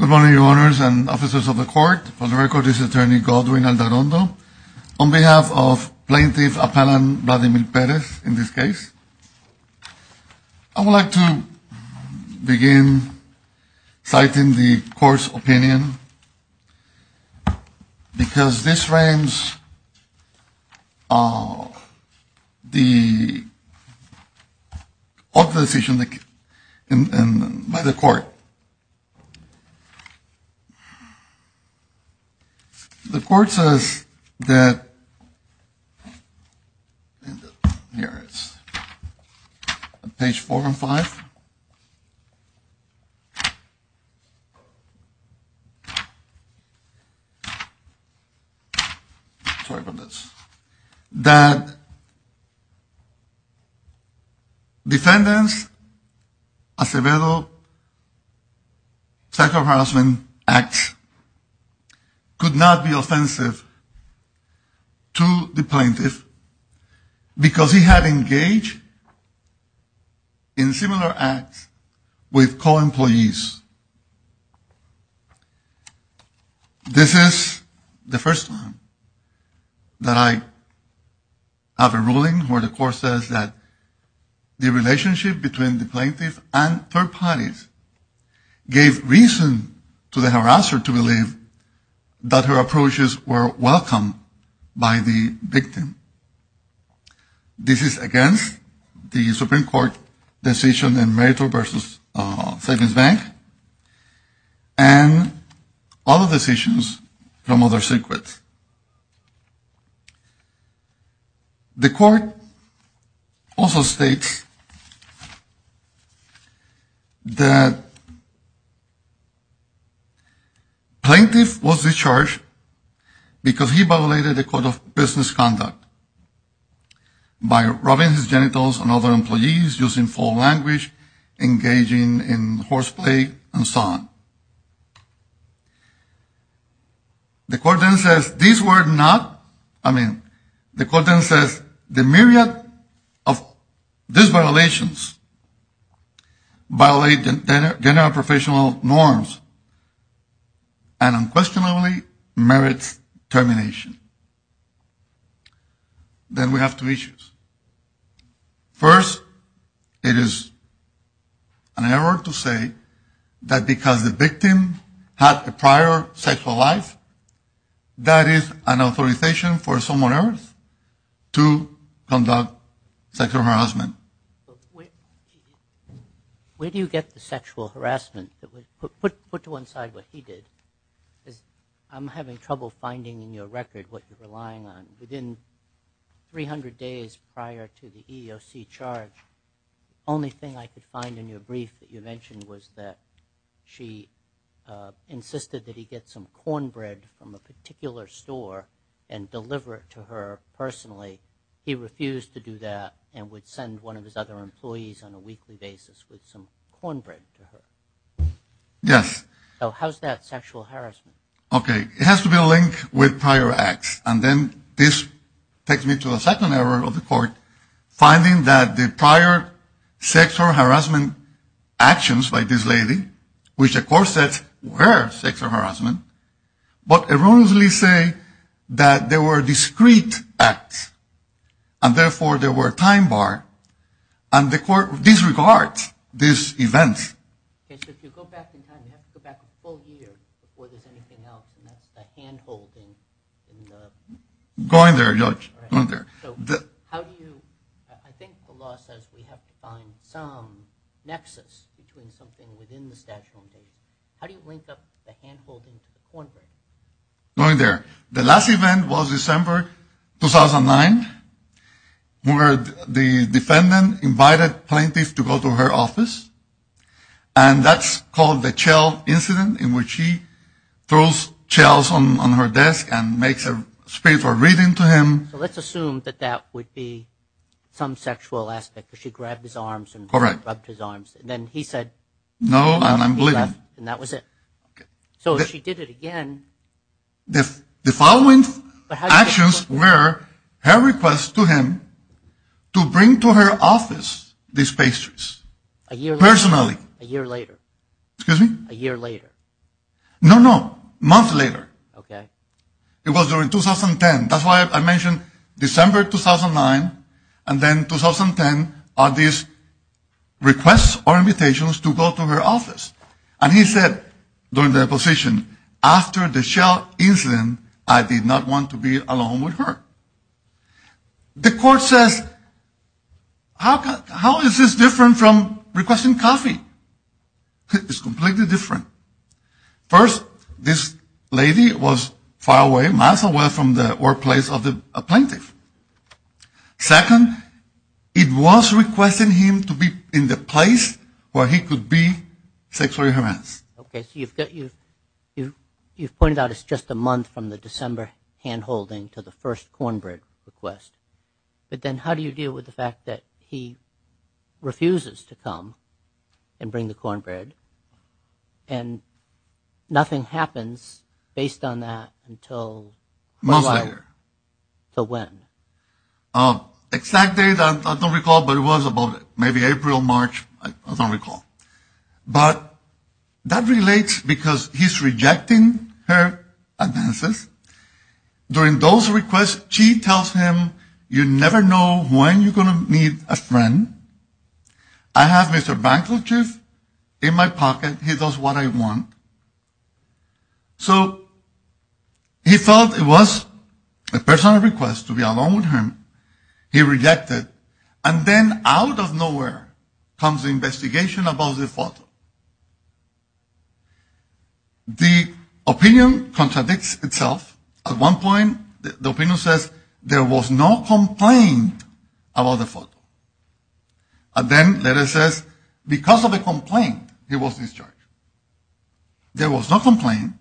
Good morning, Your Honors and Officers of the Court. For the record, this is Attorney Godwin Aldarondo. On behalf of Plaintiff Appellant Vladimir Perez, in this case, I would like to begin citing the Court's opinion because this rams the decision by the Court. The Court says that, here it is, on page 4 and 5, sorry about this, that defendants Acevedo Psycho-Harassment Act could not be offensive to the plaintiff because he had engaged in similar acts with co-employees. This is the first time that I have a ruling where the Court says that the relationship between the plaintiff and third parties gave reason to the harasser to believe that her approaches were welcome by the victim. This is against the Supreme Court decision in Meritor v. Savings Bank and other decisions from other circuits. The Court also states that plaintiff was discharged because he violated the code of business conduct by rubbing his genitals on other employees, using foul language, engaging in horseplay, and so on. The Court then says the myriad of these violations violate general and professional norms and unquestionably merits termination. Then we have two issues. First, it is an error to say that because the victim had a prior sexual life, that is an authorization for someone else to conduct sexual harassment. Where do you get the sexual harassment? Put to one side what he did. I am having trouble finding in your record what you are relying on. Within 300 days prior to the EEOC charge, the only thing I could find in your brief that you mentioned was that she insisted that he get some cornbread from a particular store and deliver it to her personally. He refused to do that and would send one of his other employees on a weekly basis with some cornbread to her. Yes. So how is that sexual harassment? Okay. It has to be linked with prior acts. And then this takes me to a second error of the Court, finding that the prior sexual harassment actions by this lady, which the Court said were sexual harassment, but erroneously say that they were discrete acts and therefore they were time bar and the Court disregards these events. Okay. So if you go back in time, you have to go back a full year before there is anything else and that is the hand-holding. Go in there, Judge. Go in there. So how do you, I think the law says we have to find some nexus between something within the statute of limitations. How do you link up the hand-holding to the cornbread? Go in there. The last event was December 2009 where the defendant invited plaintiffs to go to her office and that's called the Chell incident in which she throws Chells on her desk and makes a speech or reading to him. So let's assume that that would be some sexual aspect because she grabbed his arms and rubbed his arms. All right. And then he said, No, and I'm bleeding. And that was it. So she did it again. The following actions were her request to him to bring to her office these pastries. A year later. Personally. A year later. Excuse me? A year later. No, no. Months later. Okay. It was during 2010. That's why I mentioned December 2009 and then 2010 are these requests or invitations to go to her office. And he said during the deposition, after the Chell incident, I did not want to be alone with her. The court says, how is this different from requesting coffee? It's completely different. First, this lady was far away, miles away from the workplace of the plaintiff. Second, it was requesting him to be in the place where he could be sexually harassed. Okay. So you've pointed out it's just a month from the December handholding to the first cornbread request. But then how do you deal with the fact that he refuses to come and bring the cornbread? And nothing happens based on that until how long? Months later. So when? Exact date, I don't recall, but it was about maybe April, March. I don't recall. But that relates because he's rejecting her advances. During those requests, she tells him, you never know when you're going to need a friend. I have Mr. Bancroft in my pocket. He does what I want. So he felt it was a personal request to be alone with her. He rejected. And then out of nowhere comes an investigation about the photo. The opinion contradicts itself. At one point, the opinion says there was no complaint about the photo. And then it says because of a complaint, he was discharged. There was no complaint.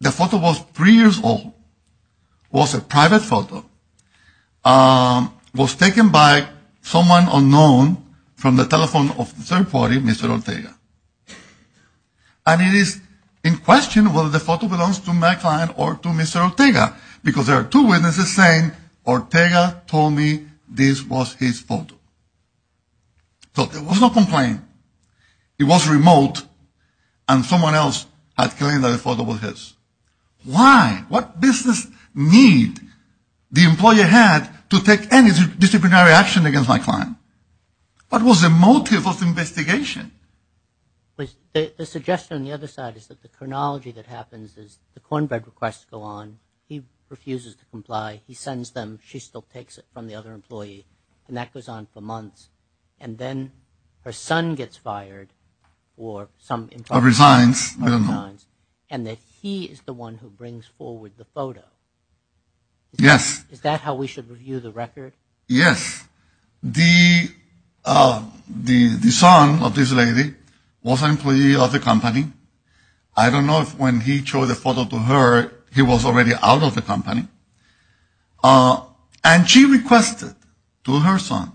The photo was three years old. It was a private photo. It was taken by someone unknown from the telephone of the third party, Mr. Ortega. And it is in question whether the photo belongs to my client or to Mr. Ortega, because there are two witnesses saying Ortega told me this was his photo. So there was no complaint. It was remote, and someone else had claimed that the photo was his. Why? What business need the employer had to take any disciplinary action against my client? What was the motive of the investigation? The suggestion on the other side is that the chronology that happens is the cornbread requests go on. He refuses to comply. He sends them. She still takes it from the other employee. And that goes on for months. And then her son gets fired or some employee resigns. Or resigns. I don't know. And that he is the one who brings forward the photo. Yes. Is that how we should review the record? Yes. The son of this lady was an employee of the company. I don't know if when he showed the photo to her, he was already out of the company. And she requested to her son,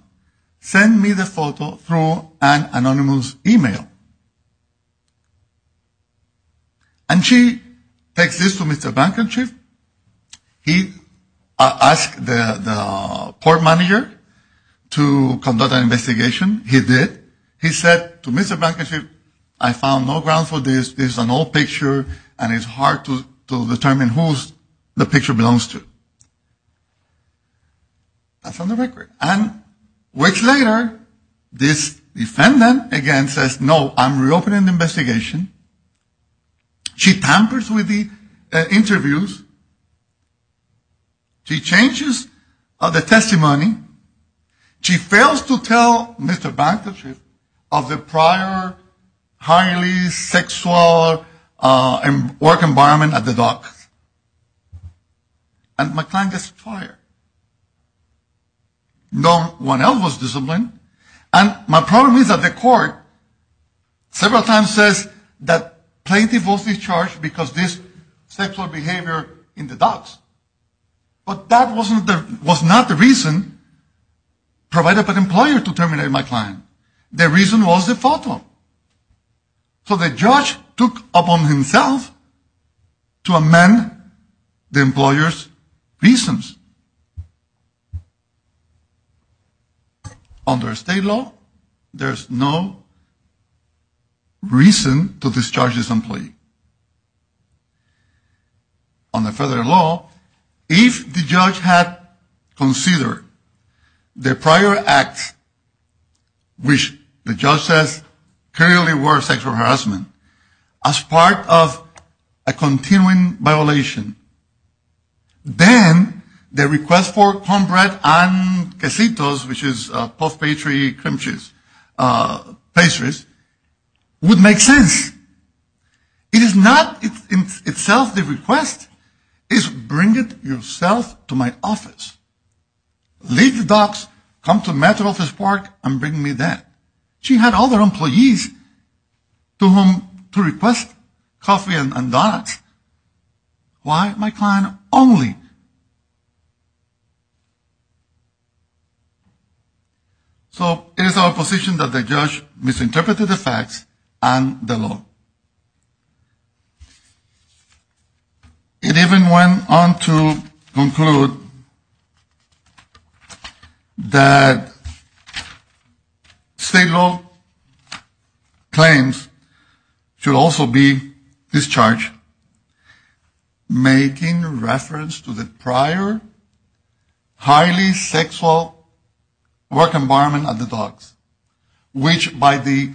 send me the photo through an anonymous e-mail. And she takes this to Mr. Bankership. He asked the port manager to conduct an investigation. He did. He said to Mr. Bankership, I found no grounds for this. This is an old picture. And it's hard to determine whose the picture belongs to. That's on the record. And weeks later, this defendant again says, no, I'm reopening the investigation. She tampers with the interviews. She changes the testimony. She fails to tell Mr. Bankership of the prior highly sexual work environment at the docks. And my client gets fired. No one else was disciplined. And my problem is that the court several times says that plaintiff was discharged because of this sexual behavior in the docks. But that was not the reason provided by the employer to terminate my client. The reason was the photo. So the judge took upon himself to amend the employer's reasons. Under state law, there's no reason to discharge this employee. Under federal law, if the judge had considered the prior act, which the judge says clearly were sexual harassment, as part of a continuing violation, then the request for cornbread and quesitos, which is puff pastry, cream cheese, pastries, would make sense. It is not itself the request. It's bring it yourself to my office. Leave the docks, come to Metro Office Park, and bring me that. She had other employees to whom to request coffee and donuts. Why my client only? So it is our position that the judge misinterpreted the facts and the law. It even went on to conclude that state law claims should also be discharged making reference to the prior highly sexual work environment at the docks, which by the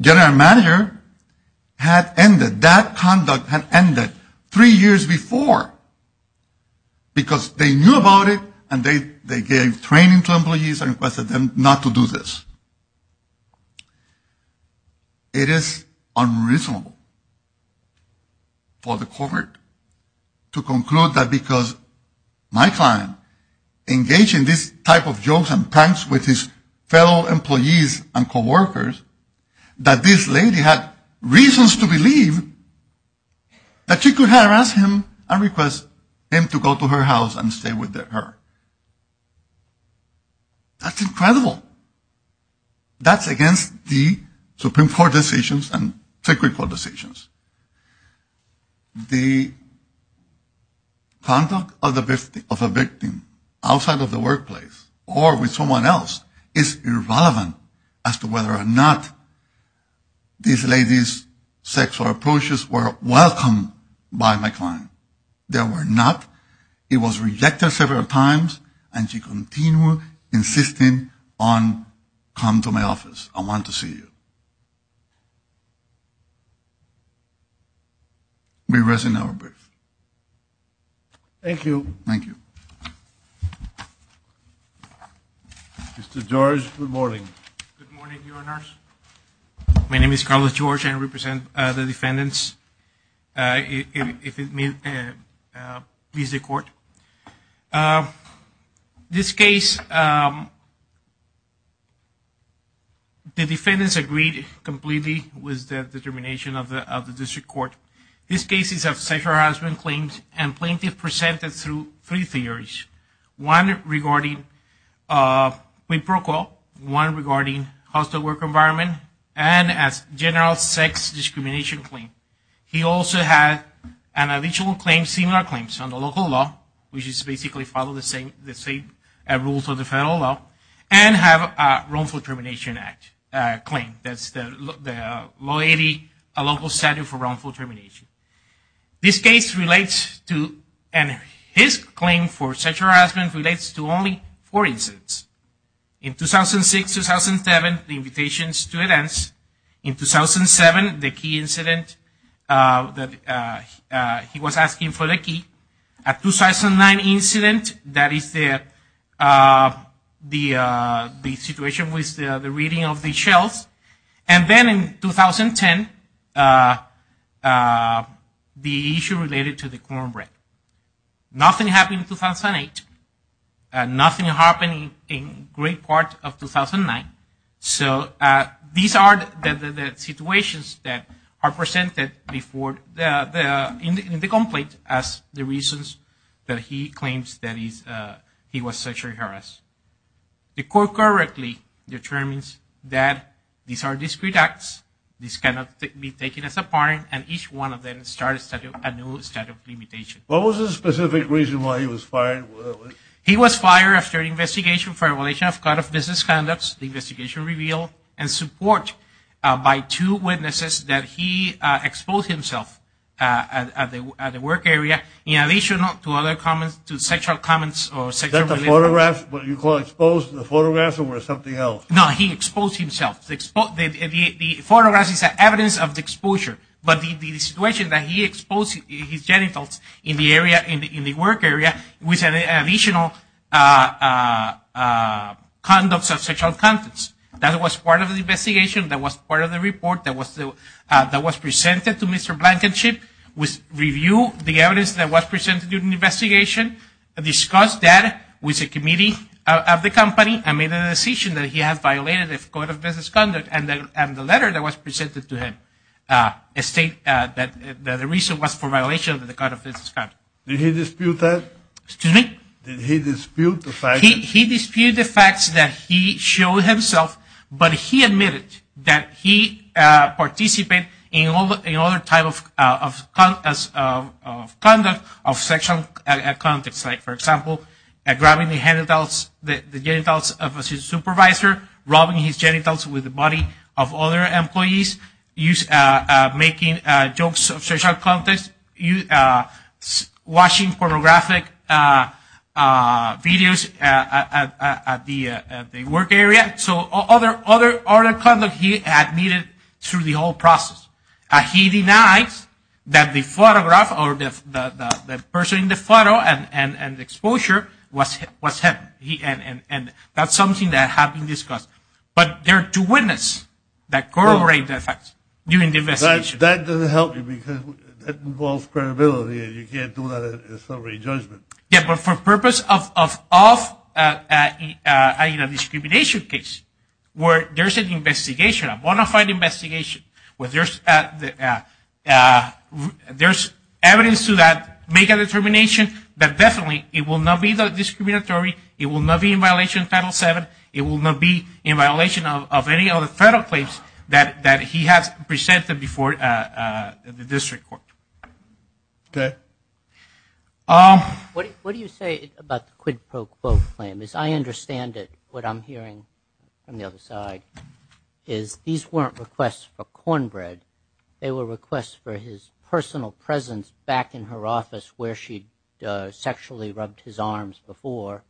general manager had ended. That conduct had ended three years before because they knew about it and they gave training to employees and requested them not to do this. It is unreasonable for the court to conclude that because my client engaged in this type of jokes and pranks with his fellow employees and coworkers, that this lady had reasons to believe that she could harass him and request him to go to her house and stay with her. That's incredible. That's against the Supreme Court decisions and technical decisions. The conduct of a victim outside of the workplace or with someone else is irrelevant as to whether or not this lady's sexual approaches were welcome by my client. They were not. It was rejected several times and she continued insisting on come to my office. I want to see you. We rest in our brief. Thank you. Thank you. Mr. George, good morning. Good morning, Your Honors. My name is Carlos George. I represent the defendants. If it pleases the court, this case, the defendants agreed completely with the determination of the district court. This case is of sexual harassment claims and plaintiff presented through three theories. One regarding, we broke up, one regarding hostile work environment and as general sex discrimination claim. He also had an additional claim, similar claims, on the local law, which is basically follow the same rules of the federal law, and have a wrongful termination act claim. That's the loyalty, a local statute for wrongful termination. This case relates to, and his claim for sexual harassment relates to only four incidents. In 2006, 2007, the invitations to events. In 2007, the key incident that he was asking for the key. At 2009 incident, that is the situation with the reading of the shells. And then in 2010, the issue related to the cornbread. Nothing happened in 2008. Nothing happened in great part of 2009. So these are the situations that are presented in the complaint as the reasons that he claims that he was sexually harassed. The court correctly determines that these are discreet acts. These cannot be taken as a part, and each one of them starts a new statute of limitation. What was the specific reason why he was fired? He was fired after an investigation for violation of code of business conducts, the investigation revealed, and support by two witnesses that he exposed himself at the work area, in addition to other comments, to sexual comments. Is that the photograph, what you call exposed in the photograph, or was it something else? No, he exposed himself. The photograph is evidence of the exposure. But the situation that he exposed his genitals in the area, in the work area, was additional conducts of sexual contents. That was part of the investigation. That was part of the report that was presented to Mr. Blankenship, which reviewed the evidence that was presented during the investigation, discussed that with the committee of the company, and made a decision that he had violated the code of business conduct, and the letter that was presented to him states that the reason was for violation of the code of business conduct. Did he dispute that? Excuse me? Did he dispute the fact? He disputed the facts that he showed himself, but he admitted that he participated in other types of conduct of sexual content, like, for example, grabbing the genitals of his supervisor, robbing his genitals with the body of other employees, making jokes of sexual content, watching pornographic videos at the work area. So other conduct he admitted through the whole process. He denies that the photograph or the person in the photo and exposure was him, and that's something that had been discussed. But there are two witnesses that corroborate that fact during the investigation. That doesn't help you because that involves credibility, and you can't do that in a summary judgment. Yeah, but for purpose of a discrimination case where there's an investigation, a bona fide investigation, where there's evidence to make a determination that definitely it will not be discriminatory, it will not be in violation of Title VII, it will not be in violation of any other federal claims that he has presented before the district court. Okay. What do you say about the quid pro quo claim? As I understand it, what I'm hearing from the other side is these weren't requests for cornbread. They were requests for his personal presence back in her office where she sexually rubbed his arms before.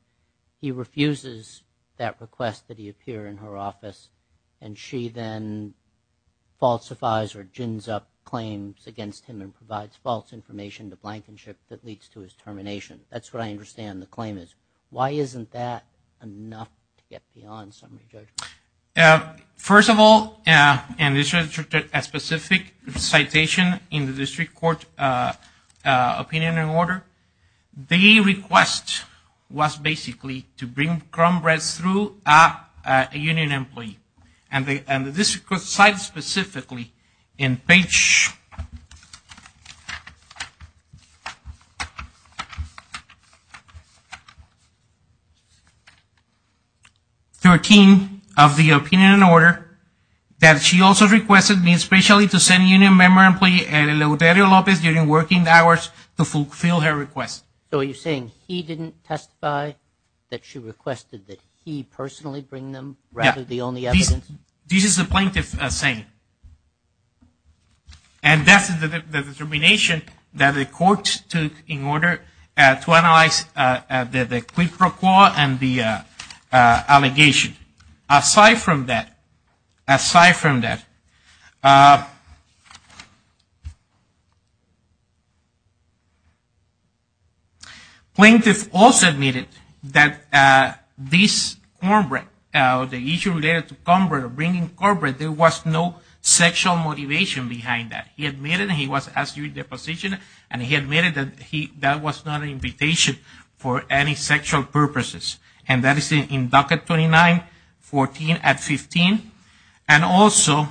He refuses that request that he appear in her office, and she then falsifies or gins up claims against him and provides false information to Blankenship that leads to his termination. That's what I understand the claim is. Why isn't that enough to get beyond summary judgment? First of all, and this is a specific citation in the district court opinion and order, the request was basically to bring cornbread through a union employee. And the district court cited specifically in page 13 of the opinion and order that she also requested me especially to send a union member employee, during working hours to fulfill her request. So are you saying he didn't testify, that she requested that he personally bring them rather than the only evidence? This is the plaintiff saying. And that's the determination that the court took in order to analyze the quid pro quo and the allegation. Aside from that, plaintiff also admitted that this issue related to bringing cornbread, there was no sexual motivation behind that. He admitted he was asking for deposition, and he admitted that that was not an invitation for any sexual purposes. And that is in docket 29.14.15. And also,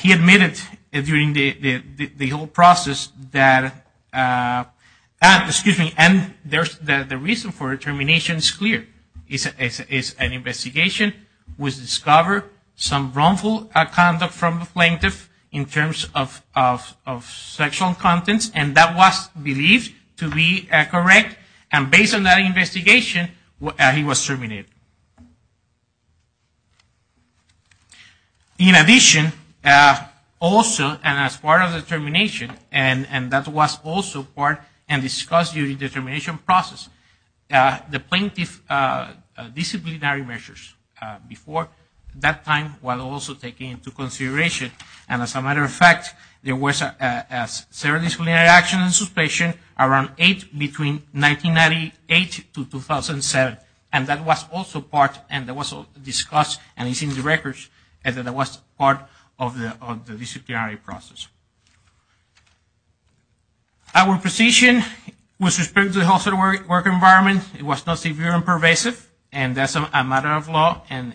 he admitted during the whole process that, excuse me, and the reason for termination is clear. It's an investigation which discovered some wrongful conduct from the plaintiff in terms of sexual contents, and that was believed to be correct. And based on that investigation, he was terminated. In addition, also, and as part of the termination, and that was also part and discussed during the termination process, the plaintiff's disciplinary measures before that time were also taken into consideration. And as a matter of fact, there were several disciplinary actions and suspensions around 1998 to 2007. And that was also discussed, and it's in the records that it was part of the disciplinary process. Our position with respect to the health care work environment was not severe and pervasive, and that's a matter of law. And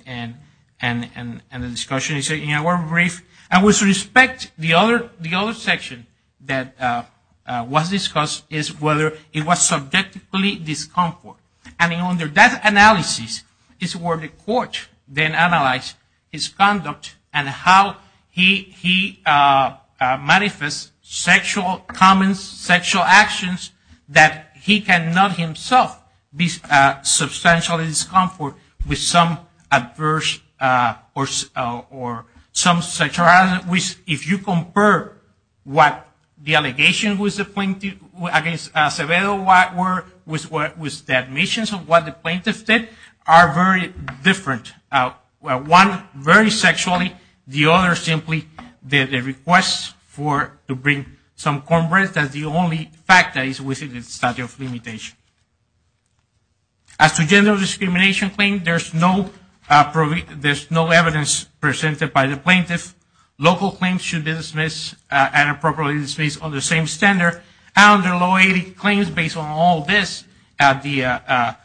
the discussion is in our brief. And with respect, the other section that was discussed is whether it was subjectively discomfort. And under that analysis is where the court then analyzed his conduct and how he manifests sexual comments, sexual actions, that he cannot himself be substantially discomfort with some adverse or some sexual harassment. If you compare what the allegations against Acevedo were with the admissions of what the plaintiff did, they are very different. One very sexually, the other simply did a request to bring some cornbread. That's the only fact that is within the statute of limitations. As to gender discrimination claims, there's no evidence presented by the plaintiff. Local claims should be dismissed and appropriately dismissed under the same standard. Under low 80 claims, based on all this, the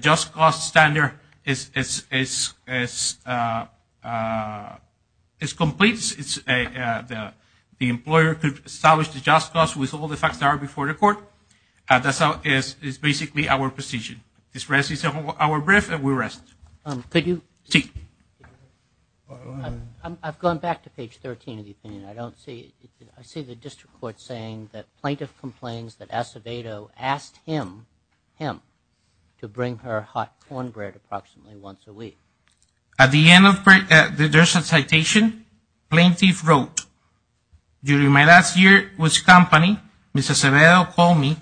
just cost standard is complete. The employer could establish the just cost with all the facts that are before the court. That's basically our position. This is our brief, and we rest. Could you? I've gone back to page 13 of the opinion. I don't see, I see the district court saying that plaintiff complains that Acevedo asked him, him, to bring her hot cornbread approximately once a week. At the end, there's a citation. Plaintiff wrote, during my last year with the company, Mrs. Acevedo called me.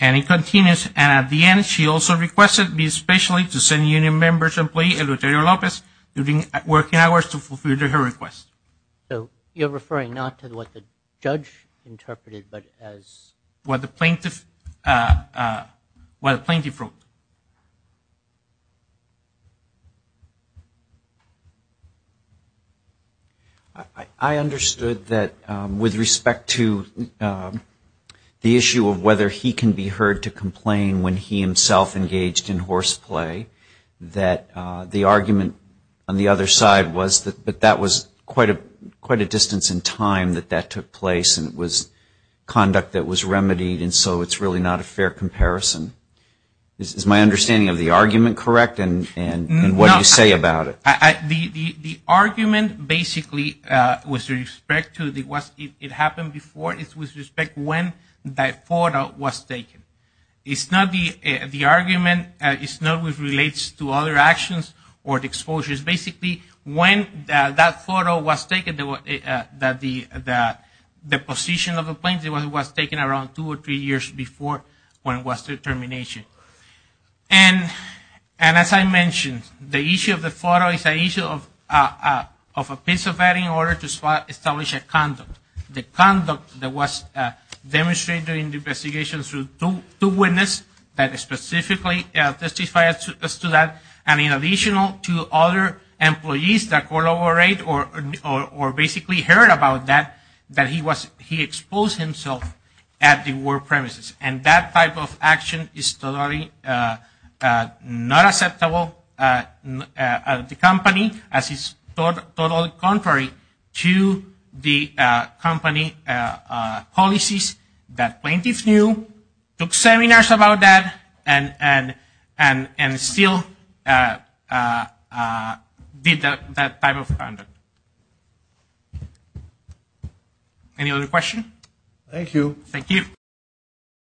And it continues. And at the end, she also requested me especially to send union members employee, Eleuterio Lopez, during working hours to fulfill her request. So you're referring not to what the judge interpreted, but as? What the plaintiff, what the plaintiff wrote. I understood that with respect to the issue of whether he can be heard to complain when he himself engaged in horseplay, that the argument on the other side was that that was quite a distance in time that that took place, and it was conduct that was remedied, and so it's really not a fair comparison. Is my understanding of the argument correct, and what do you say about it? The argument basically, with respect to what happened before, is with respect to when that photo was taken. It's not the argument. It's not what relates to other actions or exposures. Basically, when that photo was taken, the position of the plaintiff, it was taken around two or three years before when it was terminated. And as I mentioned, the issue of the photo is an issue of a piece of evidence in order to establish a conduct. The conduct that was demonstrated in the investigation through two witnesses that specifically testified to that, and in addition to other employees that collaborated or basically heard about that, that he exposed himself at the work premises. And that type of action is totally not acceptable at the company, as it's totally contrary to the company policies that plaintiffs knew, took seminars about that, and still did that type of conduct. Any other questions? Thank you.